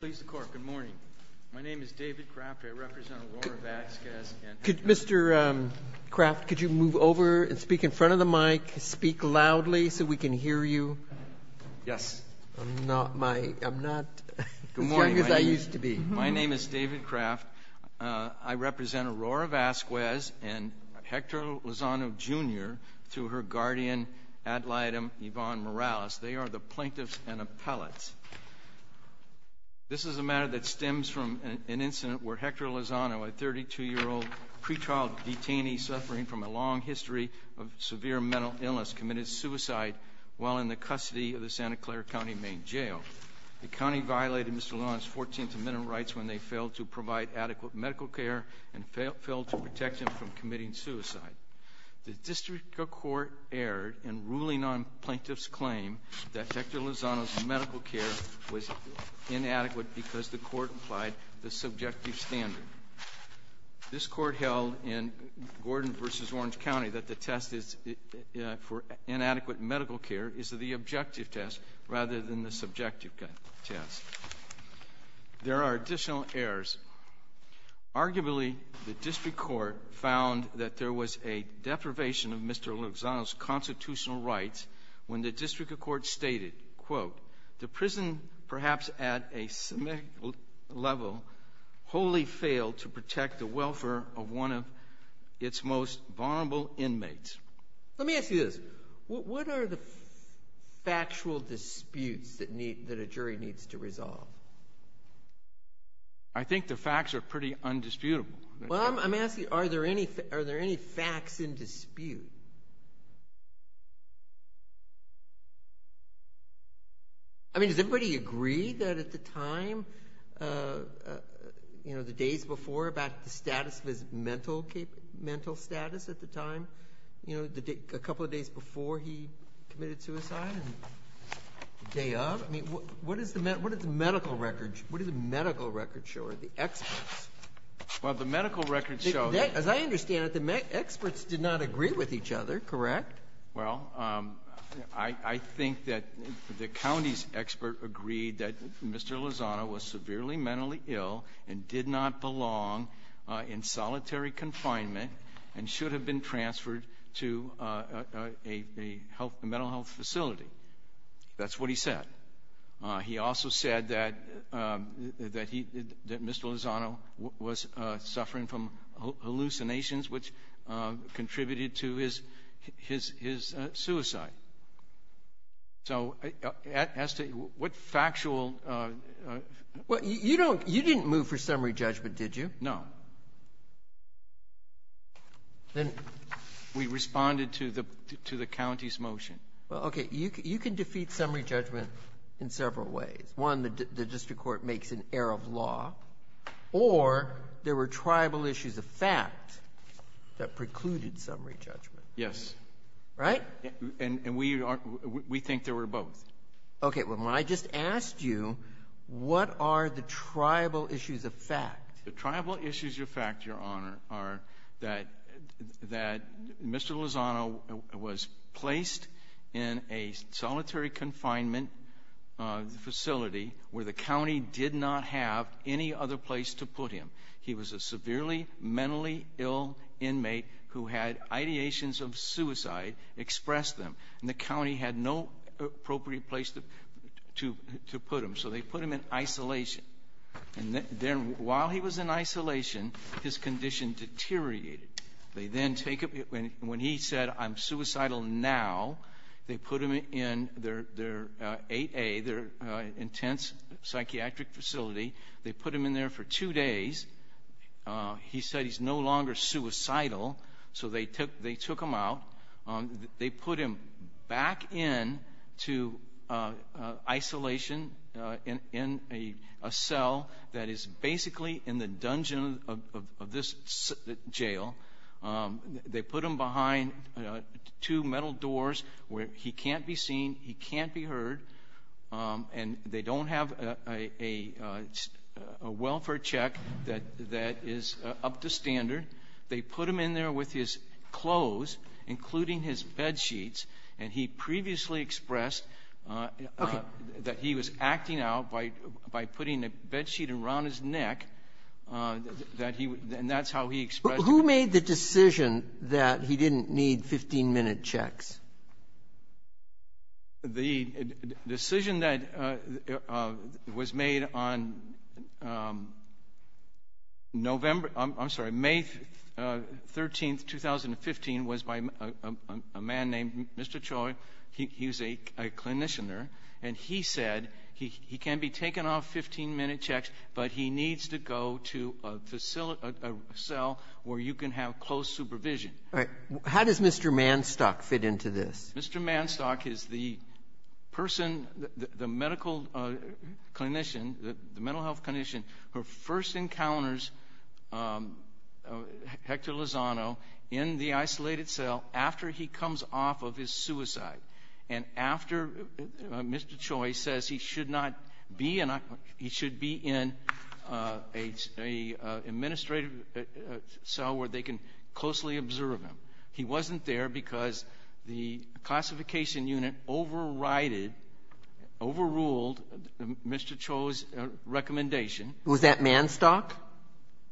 Good morning. My name is David Craft. I represent Aurora Vasquez. Mr. Craft, could you move over and speak in front of the mic? Speak loudly so we can hear you. Yes. I'm not as young as I used to be. My name is David Craft. I represent Aurora Vasquez and Hector Lozano, Jr. through her guardian, ad litem Yvonne Morales. They are the plaintiffs and appellates. This is a matter that stems from an incident where Hector Lozano, a 32-year-old pre-trial detainee suffering from a long history of severe mental illness, committed suicide while in the custody of the Santa Clara County Main Jail. The county violated Mr. Lozano's 14th Amendment rights when they failed to provide adequate medical care and failed to protect him from committing suicide. The district court erred in ruling on plaintiff's claim that Hector Lozano's medical care was inadequate because the court applied the subjective standard. This court held in Gordon v. Orange County that the test for inadequate medical care is the objective test rather than the subjective test. There are additional errors. Arguably, the district court found that there was a deprivation of Mr. Lozano's constitutional rights when the district court stated, quote, Let me ask you this. What are the factual disputes that a jury needs to resolve? I think the facts are pretty undisputable. Well, I'm asking are there any facts in dispute? I mean, does everybody agree that at the time, you know, the days before, about the status of his mental status at the time, you know, a couple of days before he committed suicide and the day of, I mean, what did the medical records show or the experts? Well, the medical records show that As I understand it, the experts did not agree with each other, correct? Well, I think that the county's expert agreed that Mr. Lozano was severely mentally ill and did not belong in solitary confinement and should have been transferred to a mental health facility. That's what he said. He also said that Mr. Lozano was suffering from hallucinations, which contributed to his suicide. So as to what factual Well, you don't You didn't move for summary judgment, did you? No. Then We responded to the county's motion. Well, okay. You can defeat summary judgment in several ways. One, the district court makes an error of law. Or there were tribal issues of fact that precluded summary judgment. Yes. Right? And we think there were both. Okay. Well, when I just asked you, what are the tribal issues of fact? The tribal issues of fact, Your Honor, are that Mr. Lozano was placed in a solitary confinement facility where the county did not have any other place to put him. He was a severely mentally ill inmate who had ideations of suicide expressed to him. And the county had no appropriate place to put him. So they put him in isolation. And then while he was in isolation, his condition deteriorated. They then take him When he said, I'm suicidal now, they put him in their 8A, their intense psychiatric facility. They put him in there for two days. He said he's no longer suicidal. So they took him out. They put him back into isolation in a cell that is basically in the dungeon of this jail. They put him behind two metal doors where he can't be seen, he can't be heard. And they don't have a welfare check that is up to standard. They put him in there with his clothes, including his bed sheets. And he previously expressed that he was acting out by putting a bed sheet around his neck, and that's how he expressed it. But who made the decision that he didn't need 15-minute checks? The decision that was made on November — I'm sorry, May 13th, 2015, was by a man named Mr. Choi. He was a clinician there. And he said he can be taken off 15-minute checks, but he needs to go to a facility — a cell where you can have close supervision. All right. How does Mr. Manstock fit into this? Mr. Manstock is the person, the medical clinician, the mental health clinician, who first encounters Hector Lozano in the isolated cell after he comes off of his suicide. And after Mr. Choi says he should not be in — he should be in an administrative cell where they can closely observe him. He wasn't there because the classification unit overrided, overruled Mr. Choi's recommendation. Was that Manstock?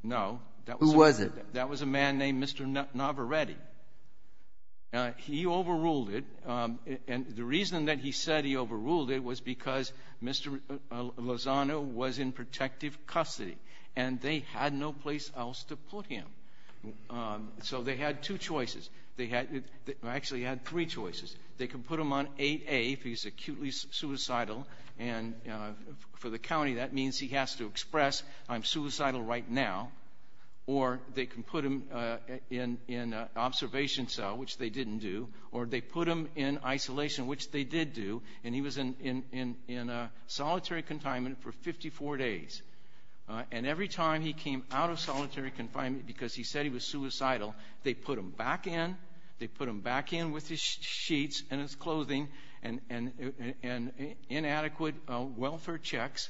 No. Who was it? That was a man named Mr. Navarretti. He overruled it. And the reason that he said he overruled it was because Mr. Lozano was in protective custody. And they had no place else to put him. So they had two choices. They actually had three choices. They can put him on 8A if he's acutely suicidal. And for the county, that means he has to express, I'm suicidal right now. Or they can put him in an observation cell, which they didn't do. Or they put him in isolation, which they did do. And he was in solitary confinement for 54 days. And every time he came out of solitary confinement because he said he was suicidal, they put him back in. They put him back in with his sheets and his clothing and inadequate welfare checks.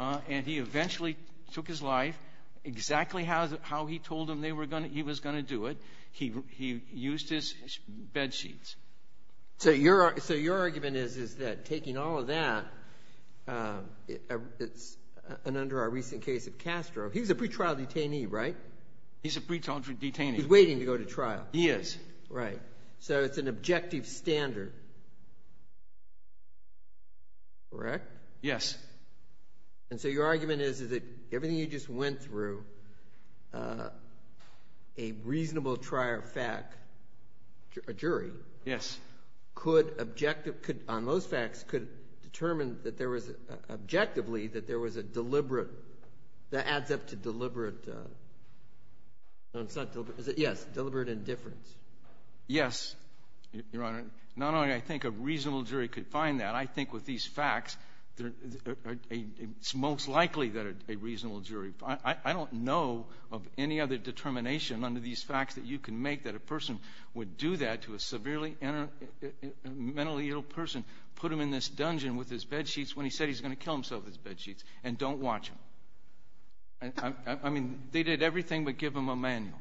And he eventually took his life exactly how he told them he was going to do it. He used his bed sheets. So your argument is that taking all of that, and under our recent case of Castro, he was a pretrial detainee, right? He's a pretrial detainee. He's waiting to go to trial. He is. Right. So it's an objective standard. Correct? Yes. And so your argument is that everything you just went through, a reasonable trial fact, a jury. Yes. Could objective, on most facts, could determine that there was, objectively, that there was a deliberate, that adds up to deliberate, yes, deliberate indifference. Yes, Your Honor. Not only I think a reasonable jury could find that. I think with these facts, it's most likely that a reasonable jury. I don't know of any other determination under these facts that you can make that a person would do that to a severely mentally ill person, put him in this dungeon with his bed sheets, when he said he's going to kill himself with his bed sheets, and don't watch him. I mean, they did everything but give him a manual.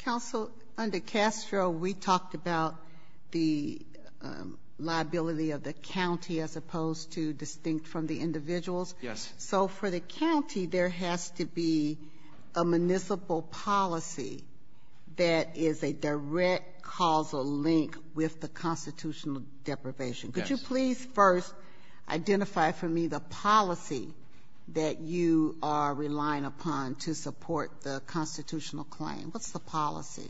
Counsel, under Castro, we talked about the liability of the county as opposed to distinct from the individuals. Yes. So for the county, there has to be a municipal policy that is a direct causal link with the constitutional deprivation. Yes. Could you please first identify for me the policy that you are relying upon to support the constitutional claim? What's the policy?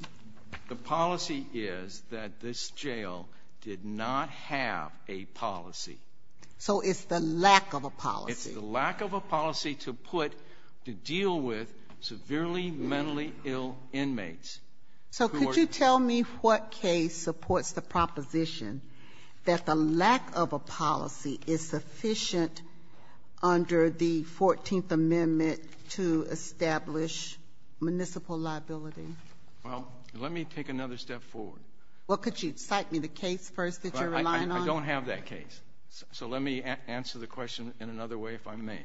The policy is that this jail did not have a policy. So it's the lack of a policy. It's the lack of a policy to put, to deal with severely mentally ill inmates. So could you tell me what case supports the proposition that the lack of a policy is sufficient under the 14th Amendment to establish municipal liability? Well, let me take another step forward. Well, could you cite me the case first that you're relying on? I don't have that case. So let me answer the question in another way, if I may.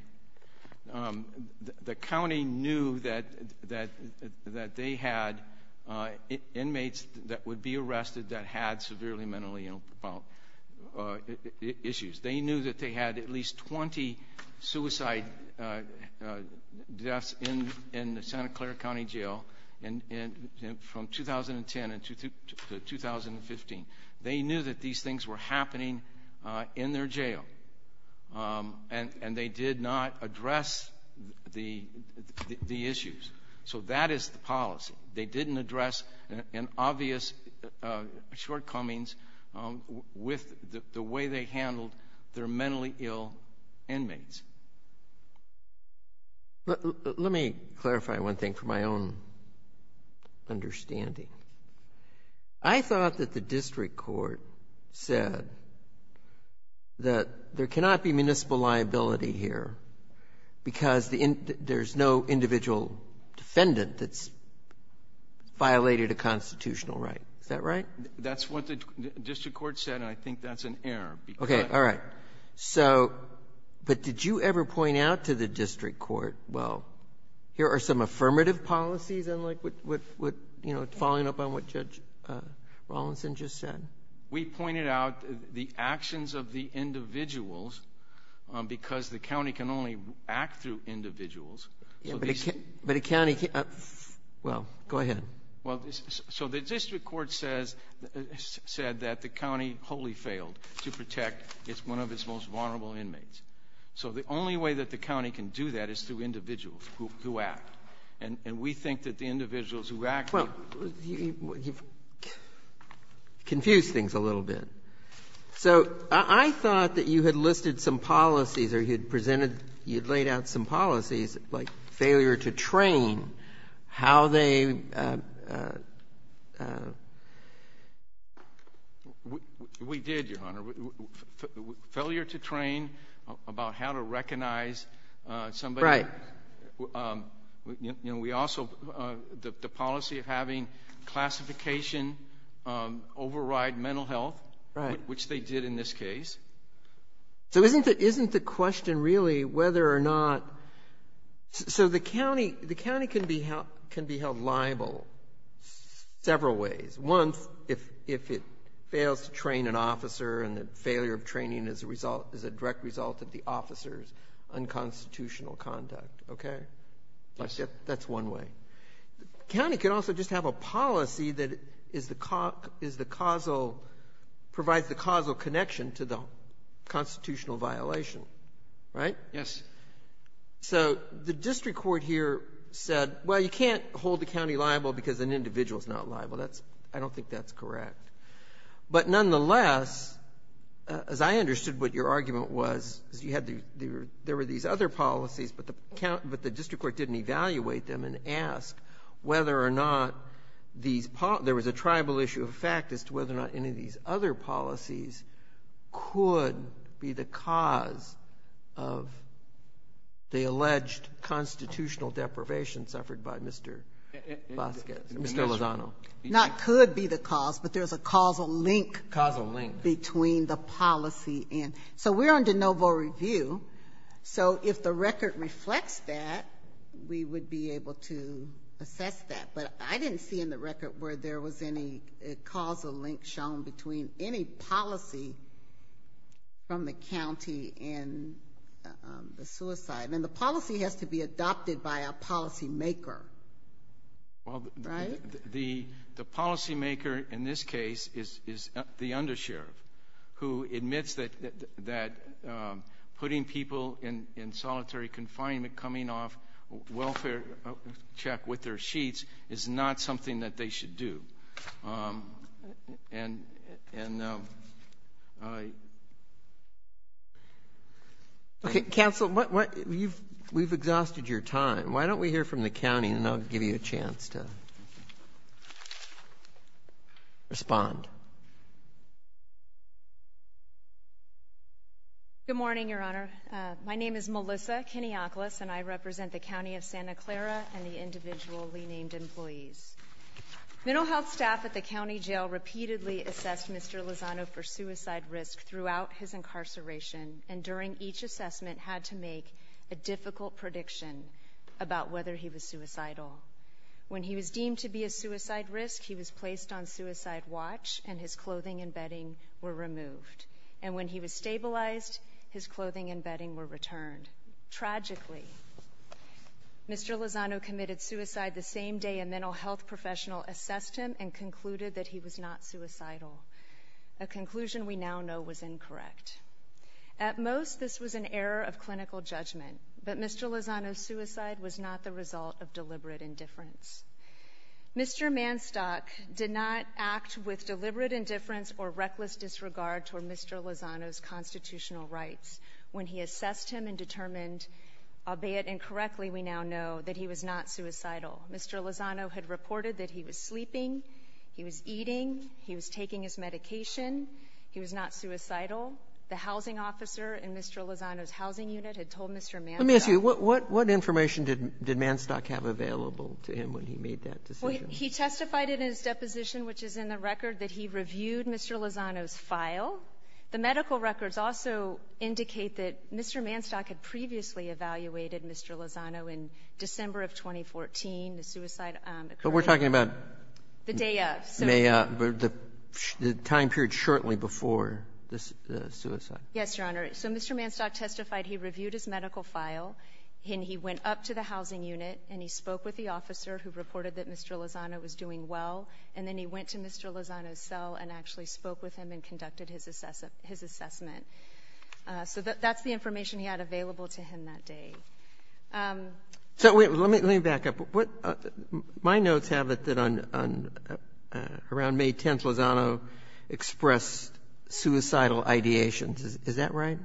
The county knew that they had inmates that would be arrested that had severely mentally ill issues. They knew that they had at least 20 suicide deaths in the Santa Clara County Jail from 2010 to 2015. They knew that these things were happening in their jail, and they did not address the issues. They didn't address an obvious shortcomings with the way they handled their mentally ill inmates. Let me clarify one thing for my own understanding. I thought that the district court said that there cannot be municipal liability here because there's no individual defendant that's violated a constitutional right. Is that right? That's what the district court said, and I think that's an error. Okay. All right. So, but did you ever point out to the district court, well, here are some affirmative policies and, like, what, you know, following up on what Judge Rawlinson just said? We pointed out the actions of the individuals because the county can only act through individuals. Yeah, but a county can't, well, go ahead. Well, so the district court says, said that the county wholly failed to protect one of its most vulnerable inmates. So the only way that the county can do that is through individuals who act, and we think that the individuals who act. Well, you've confused things a little bit. So I thought that you had listed some policies or you had presented, you had laid out some policies like failure to train, how they ---- We did, Your Honor. Failure to train about how to recognize somebody. Right. You know, we also, the policy of having classification override mental health. Right. Which they did in this case. So isn't the question really whether or not, so the county can be held liable several ways. One, if it fails to train an officer and the failure of training is a direct result of the officer's unconstitutional conduct. Okay. That's one way. The county can also just have a policy that is the causal, provides the causal connection to the constitutional violation. Right? Yes. So the district court here said, well, you can't hold the county liable because an individual is not liable. That's, I don't think that's correct. But nonetheless, as I understood what your argument was, is you had the, there were these other policies, but the county, but the district court didn't evaluate them and ask whether or not these there was a tribal issue of fact as to whether or not any of these other policies could be the cause of the alleged constitutional deprivation suffered by Mr. Vasquez, Mr. Lozano. Not could be the cause, but there's a causal link. Causal link. Between the policy and, so we're under no vote review. So if the record reflects that, we would be able to assess that. But I didn't see in the record where there was any causal link shown between any policy from the county and the suicide. And the policy has to be adopted by a policymaker. Right? The policymaker in this case is the undersheriff who admits that putting people in solitary confinement, coming off welfare check with their sheets, is not something that they should do. And I. Okay. Counsel, we've exhausted your time. Why don't we hear from the county, and I'll give you a chance to respond. Good morning, Your Honor. My name is Melissa Kiniakoulis, and I represent the county of Santa Clara and the individually named employees. Mental health staff at the county jail repeatedly assessed Mr. Lozano for suicide risk throughout his incarceration, and during each assessment had to make a difficult prediction about whether he was suicidal. When he was deemed to be a suicide risk, he was placed on suicide watch, and his clothing and bedding were removed. And when he was stabilized, his clothing and bedding were returned. Tragically, Mr. Lozano committed suicide the same day a mental health professional assessed him and concluded that he was not suicidal. A conclusion we now know was incorrect. At most, this was an error of clinical judgment, but Mr. Lozano's suicide was not the result of deliberate indifference. Mr. Manstock did not act with deliberate indifference or reckless disregard toward Mr. Lozano's constitutional rights. When he assessed him and determined, albeit incorrectly we now know, that he was not suicidal, Mr. Lozano had reported that he was sleeping, he was eating, he was taking his medication, he was not suicidal. The housing officer in Mr. Lozano's housing unit had told Mr. Manstock. Let me ask you, what information did Manstock have available to him when he made that decision? He testified in his deposition, which is in the record, that he reviewed Mr. Lozano's file. The medical records also indicate that Mr. Manstock had previously evaluated Mr. Lozano in December of 2014. The suicide occurred the day of. But we're talking about the time period shortly before the suicide. Yes, Your Honor. So Mr. Manstock testified. He reviewed his medical file, and he went up to the housing unit and he spoke with the officer who reported that Mr. Lozano was doing well, and then he went to Mr. Lozano's and spoke with him and conducted his assessment. So that's the information he had available to him that day. Let me back up. My notes have it that around May 10th, Lozano expressed suicidal ideations. Is that right?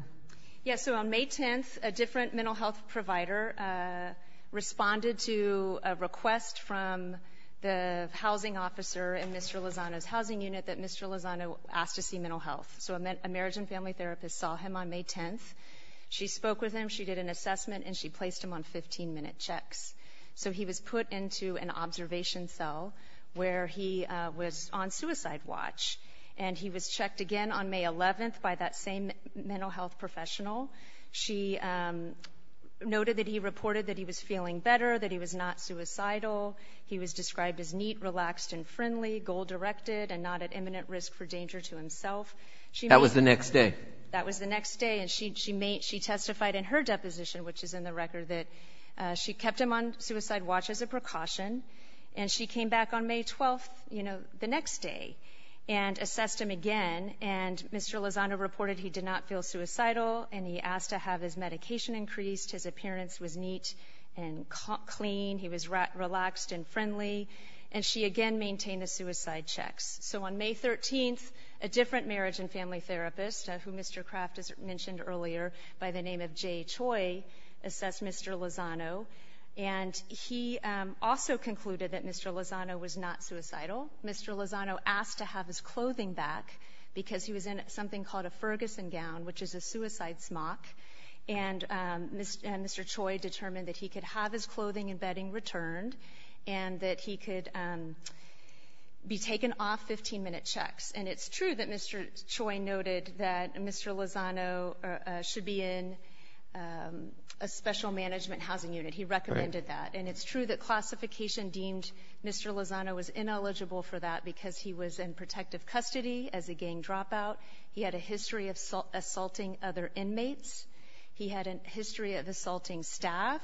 Yes. So on May 10th, a different mental health provider responded to a request from the housing officer in Mr. Lozano's housing unit that Mr. Lozano ask to see mental health. So a marriage and family therapist saw him on May 10th. She spoke with him, she did an assessment, and she placed him on 15-minute checks. So he was put into an observation cell where he was on suicide watch, and he was checked again on May 11th by that same mental health professional. She noted that he reported that he was feeling better, that he was not suicidal. He was described as neat, relaxed, and friendly, goal-directed, and not at imminent risk for danger to himself. That was the next day. That was the next day, and she testified in her deposition, which is in the record that she kept him on suicide watch as a precaution, and she came back on May 12th, you know, the next day and assessed him again. And Mr. Lozano reported he did not feel suicidal, and he asked to have his medication increased. His appearance was neat and clean. He was relaxed and friendly, and she again maintained the suicide checks. So on May 13th, a different marriage and family therapist, who Mr. Kraft mentioned earlier by the name of Jay Choi, assessed Mr. Lozano, and he also concluded that Mr. Lozano was not suicidal. Mr. Lozano asked to have his clothing back because he was in something called a Ferguson gown, which is a suicide smock, and Mr. Choi determined that he could have his clothing and bedding returned and that he could be taken off 15-minute checks. And it's true that Mr. Choi noted that Mr. Lozano should be in a special management housing unit. He recommended that. And it's true that classification deemed Mr. Lozano was ineligible for that because he was in protective custody as a gang dropout. He had a history of assaulting other inmates. He had a history of assaulting staff.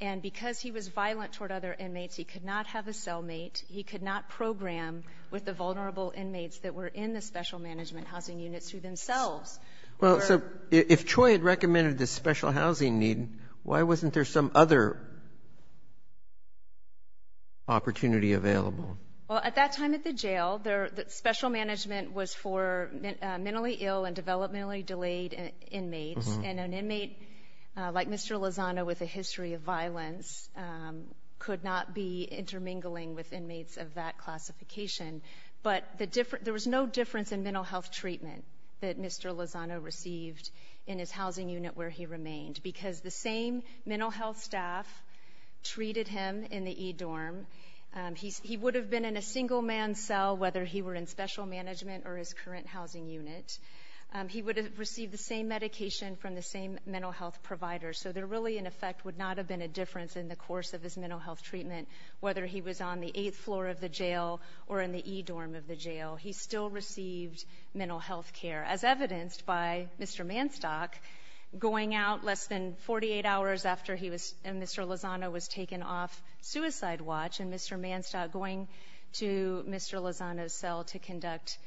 And because he was violent toward other inmates, he could not have a cellmate. He could not program with the vulnerable inmates that were in the special management housing units who themselves were. Well, so if Choi had recommended the special housing need, why wasn't there some other opportunity available? Well, at that time at the jail, special management was for mentally ill and developmentally delayed inmates, and an inmate like Mr. Lozano with a history of violence could not be intermingling with inmates of that classification. But there was no difference in mental health treatment that Mr. Lozano received in his housing unit where he remained because the same mental health staff treated him in the E-dorm. He would have been in a single-man cell whether he were in special management or his current housing unit. He would have received the same medication from the same mental health provider. So there really, in effect, would not have been a difference in the course of his mental health treatment whether he was on the eighth floor of the jail or in the E-dorm of the jail. He still received mental health care. As evidenced by Mr. Manstock, going out less than 48 hours after he was and Mr. Lozano was taken off suicide watch and Mr. Manstock going to Mr. Lozano's cell to conduct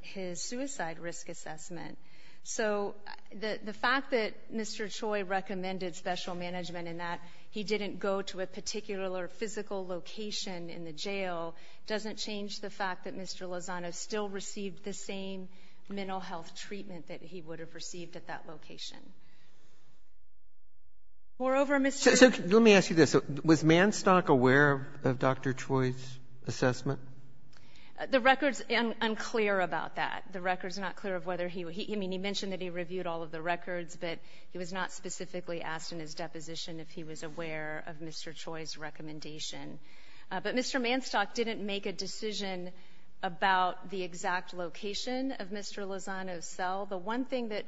his suicide risk assessment. So the fact that Mr. Choi recommended special management and that he didn't go to a particular physical location in the jail doesn't change the fact that Mr. Lozano still received the same mental health treatment that he would have received at that location. Moreover, Mr. ---- Robertson, let me ask you this. Was Manstock aware of Dr. Choi's assessment? The record's unclear about that. The record's not clear of whether he was. I mean, he mentioned that he reviewed all of the records, but he was not specifically asked in his deposition if he was aware of Mr. Choi's recommendation. But Mr. Manstock didn't make a decision about the exact location of Mr. Lozano's cell. The one thing that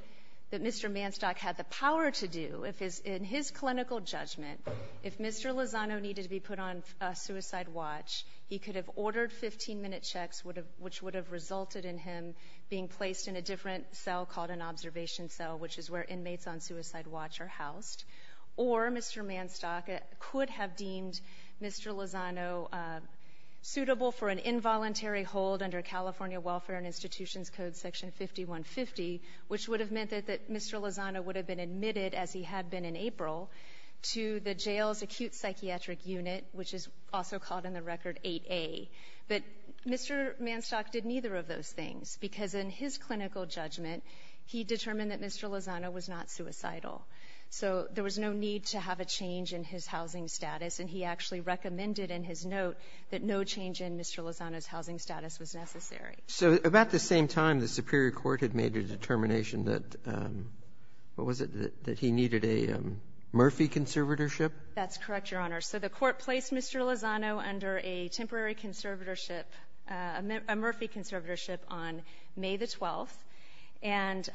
Mr. Manstock had the power to do in his clinical judgment, if Mr. Lozano needed to be put on a suicide watch, he could have ordered 15-minute checks, which would have resulted in him being placed in a different cell called an observation cell, which is where inmates on suicide watch are housed. Or Mr. Manstock could have deemed Mr. Lozano suitable for an involuntary hold under California Welfare and Institutions Code Section 5150, which would have meant that Mr. Lozano would have been admitted, as he had been in April, to the jail's acute psychiatric unit, which is also called in the record 8A. But Mr. Manstock did neither of those things, because in his clinical judgment, he determined that Mr. Lozano was not suicidal. So there was no need to have a change in his housing status, and he actually recommended in his note that no change in Mr. Lozano's housing status was necessary. So about the same time, the superior court had made a determination that, what was it, that he needed a Murphy conservatorship? That's correct, Your Honor. So the court placed Mr. Lozano under a temporary conservatorship, a Murphy conservatorship, on May the 12th. And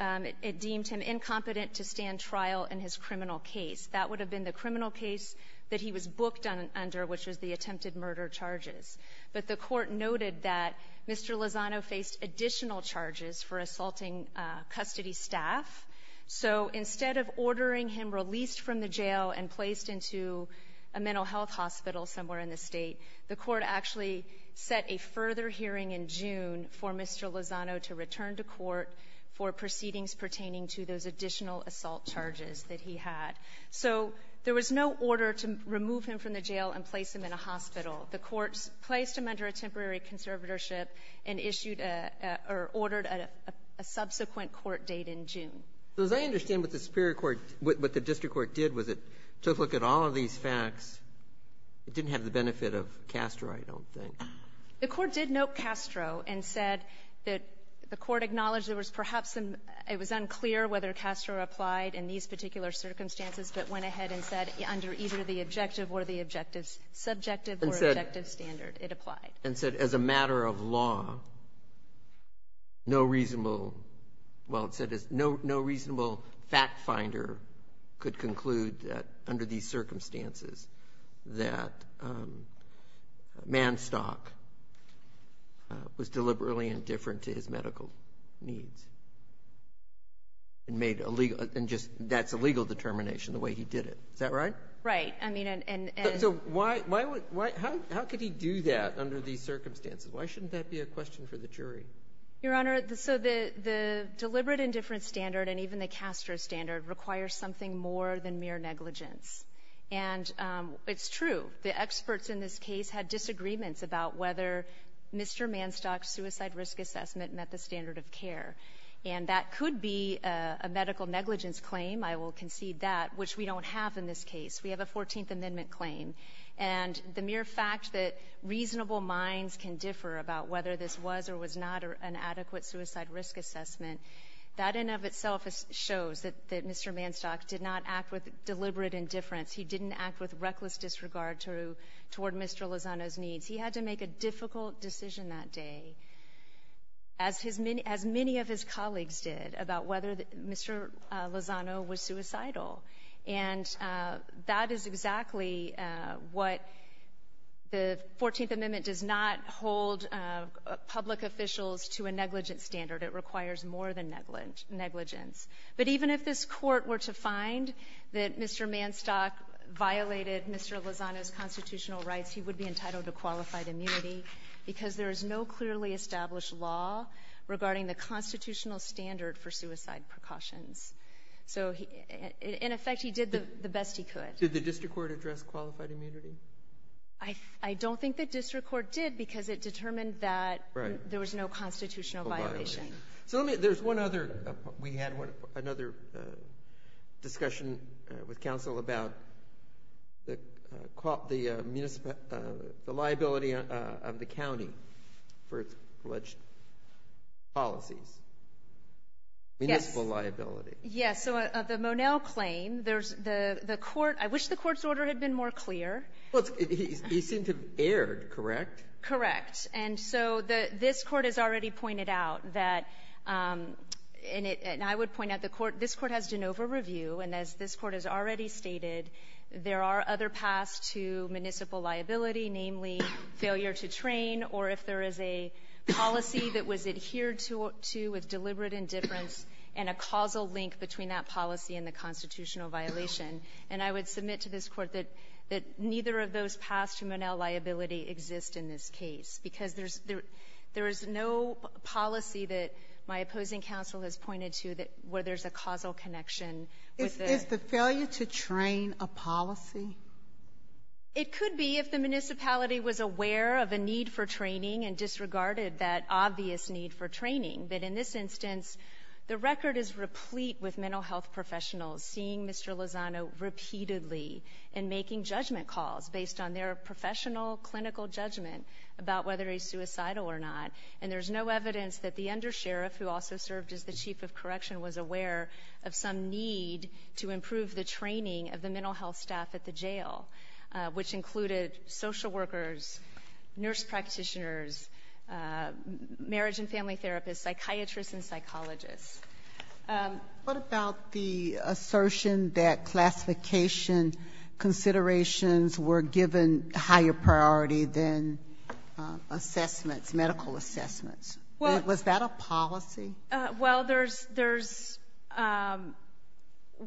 it deemed him incompetent to stand trial in his criminal case. That would have been the criminal case that he was booked under, which was the attempted murder charges. But the court noted that Mr. Lozano faced additional charges for assaulting custody staff. So instead of ordering him released from the jail and placed into a mental health hospital somewhere in the state, the court actually set a further hearing in June for Mr. Lozano to return to court for proceedings pertaining to those additional assault charges that he had. So there was no order to remove him from the jail and place him in a hospital. The court placed him under a temporary conservatorship and issued a or ordered a subsequent court date in June. So as I understand what the superior court, what the district court did was it took a look at all of these facts. It didn't have the benefit of Castro, I don't think. The court did note Castro and said that the court acknowledged there was perhaps some, it was unclear whether Castro applied in these particular circumstances but went ahead and said under either the objective or the objective, subjective or objective standard, it applied. And said as a matter of law, no reasonable, well, it said no reasonable fact finder could conclude that under these circumstances that Manstock was deliberately indifferent to his medical needs and made a legal, and just that's a legal determination the way he did it. Is that right? Right. I mean, and. So why, how could he do that under these circumstances? Why shouldn't that be a question for the jury? Your Honor, so the deliberate indifference standard and even the Castro standard requires something more than mere negligence. And it's true. The experts in this case had disagreements about whether Mr. Manstock's suicide risk assessment met the standard of care. And that could be a medical negligence claim, I will concede that, which we don't have in this case. We have a 14th Amendment claim. And the mere fact that reasonable minds can differ about whether this was or was not an adequate suicide risk assessment, that in and of itself shows that Mr. Manstock did not act with deliberate indifference. He didn't act with reckless disregard toward Mr. Lozano's needs. He had to make a difficult decision that day, as many of his colleagues did, about whether Mr. Lozano was suicidal. And that is exactly what the 14th Amendment does not hold public officials to a negligence standard. It requires more than negligence. But even if this Court were to find that Mr. Manstock violated Mr. Lozano's constitutional rights, he would be entitled to qualified immunity because there is no clearly established law regarding the constitutional standard for suicide precautions. So, in effect, he did the best he could. Did the district court address qualified immunity? I don't think the district court did because it determined that there was no constitutional violation. We had another discussion with counsel about the liability of the county for its alleged policies. Municipal liability. Yes. So of the Monell claim, I wish the Court's order had been more clear. He seemed to have erred, correct? Correct. And so this Court has already pointed out that, and I would point out, this Court has de novo review. And as this Court has already stated, there are other paths to municipal liability, namely failure to train or if there is a policy that was adhered to with deliberate indifference and a causal link between that policy and the constitutional violation. And I would submit to this Court that neither of those paths to Monell liability exist in this case because there's no policy that my opposing counsel has pointed to where there's a causal connection with the ---- Is the failure to train a policy? It could be if the municipality was aware of a need for training and disregarded that obvious need for training. But in this instance, the record is replete with mental health professionals seeing Mr. Lozano repeatedly and making judgment calls based on their professional clinical judgment about whether he's suicidal or not. And there's no evidence that the undersheriff, who also served as the chief of correction, was aware of some need to improve the training of the mental health staff at the jail, which included social workers, nurse practitioners, marriage and family therapists, psychiatrists and psychologists. What about the assertion that classification considerations were given higher priority than assessments, medical assessments? Was that a policy? Well, there's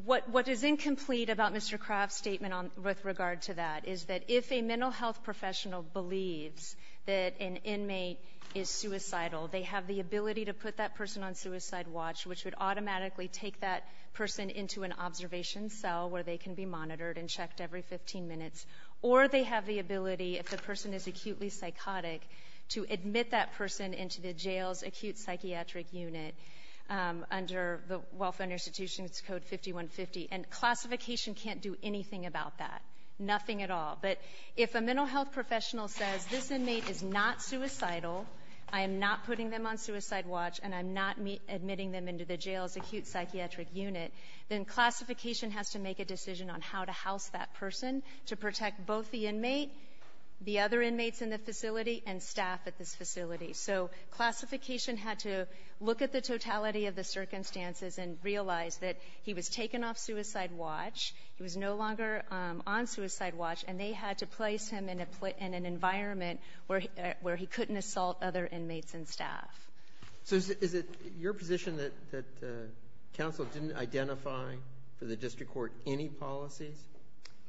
what is incomplete about Mr. Craft's statement with regard to that is that if a mental health professional believes that an inmate is suicidal, they have the ability to put that person on suicide watch, which would automatically take that person into an observation cell where they can be monitored and checked every 15 minutes. Or they have the ability, if the person is acutely psychotic, to admit that person into the jail's acute psychiatric unit under the Welfare and Institutions Code 5150. And classification can't do anything about that, nothing at all. But if a mental health professional says, this inmate is not suicidal, I am not putting them on suicide watch, and I'm not admitting them into the jail's acute psychiatric unit, then classification has to make a decision on how to house that person to protect both the inmate, the other inmates in the facility, and staff at this facility. So classification had to look at the totality of the circumstances and realize that he was taken off suicide watch, he was no longer on suicide watch, and they had to place him in an environment where he couldn't assault other inmates and staff. So is it your position that counsel didn't identify for the district court any policies?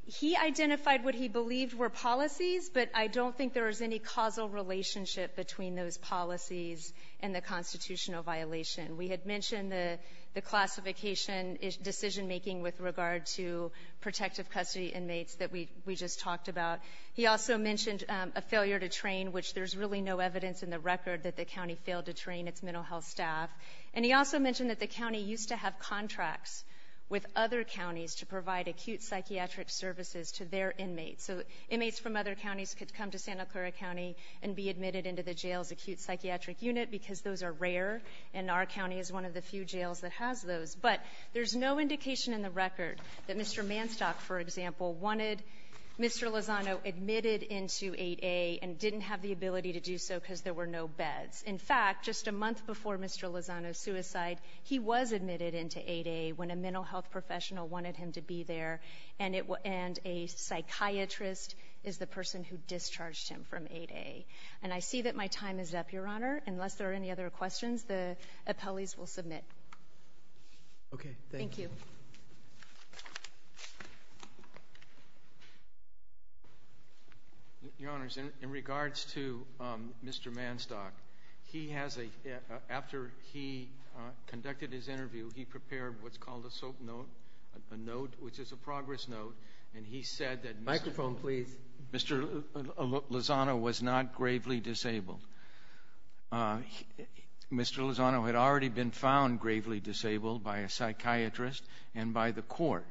He identified what he believed were policies, but I don't think there was any causal relationship between those policies and the constitutional violation. We had mentioned the classification decision-making with regard to protective custody inmates that we just talked about. He also mentioned a failure to train, which there's really no evidence in the record that the county failed to train its mental health staff. And he also mentioned that the county used to have contracts with other counties to provide acute psychiatric services to their inmates. So inmates from other counties could come to Santa Clara County and be admitted into the jail's acute psychiatric unit because those are rare, and our county is one of the few jails that has those. But there's no indication in the record that Mr. Manstock, for example, wanted Mr. Lozano admitted into 8A and didn't have the ability to do so because there were no beds. In fact, just a month before Mr. Lozano's suicide, he was admitted into 8A when a mental health professional wanted him to be there, and a psychiatrist is the person who discharged him from 8A. And I see that my time is up, Your Honor. Unless there are any other questions, the appellees will submit. Okay, thank you. Thank you. Your Honors, in regards to Mr. Manstock, he has a – after he conducted his interview, he prepared what's called a SOAP note, a note which is a progress note, and he said that Mr. Lozano was not gravely disabled. Mr. Lozano had already been found gravely disabled by a psychiatrist and by the court,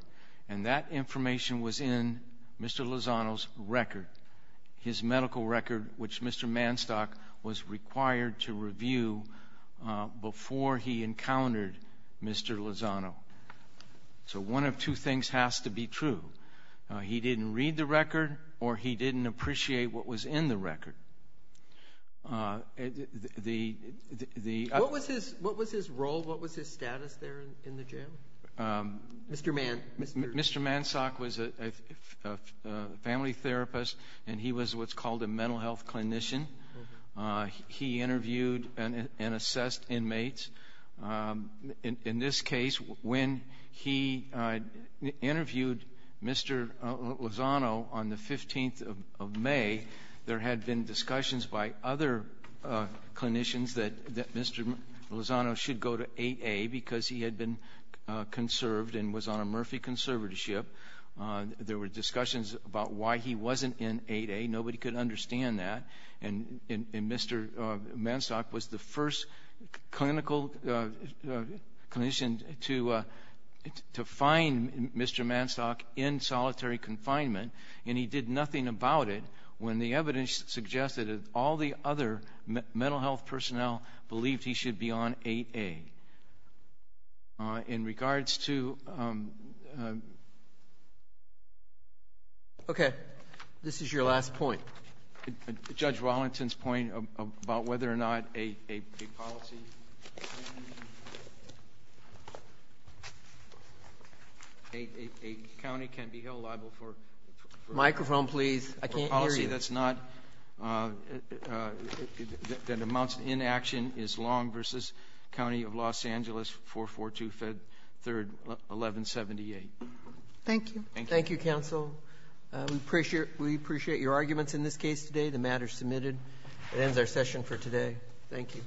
and that information was in Mr. Lozano's record, his medical record, which Mr. Manstock was required to review before he encountered Mr. Lozano. So one of two things has to be true. He didn't read the record or he didn't appreciate what was in the record. What was his role? What was his status there in the jail? Mr. Manstock was a family therapist, and he was what's called a mental health clinician. He interviewed and assessed inmates. In this case, when he interviewed Mr. Lozano on the 15th of May, there had been discussions by other clinicians that Mr. Lozano should go to 8A because he had been conserved and was on a Murphy conservatorship. There were discussions about why he wasn't in 8A. Nobody could understand that. And Mr. Manstock was the first clinical clinician to find Mr. Manstock in solitary confinement, and he did nothing about it when the evidence suggested that all the other mental health personnel believed he should be on 8A. In regards to ‑‑ Okay, this is your last point. Judge Wallington's point about whether or not a policy a county can be held liable for ‑‑ Microphone, please. ‑‑for a policy that's not, that amounts to inaction is long versus County of Los Angeles 442 Fed 3rd 1178. Thank you. Thank you, counsel. We appreciate your arguments in this case today. The matter is submitted. That ends our session for today. Thank you.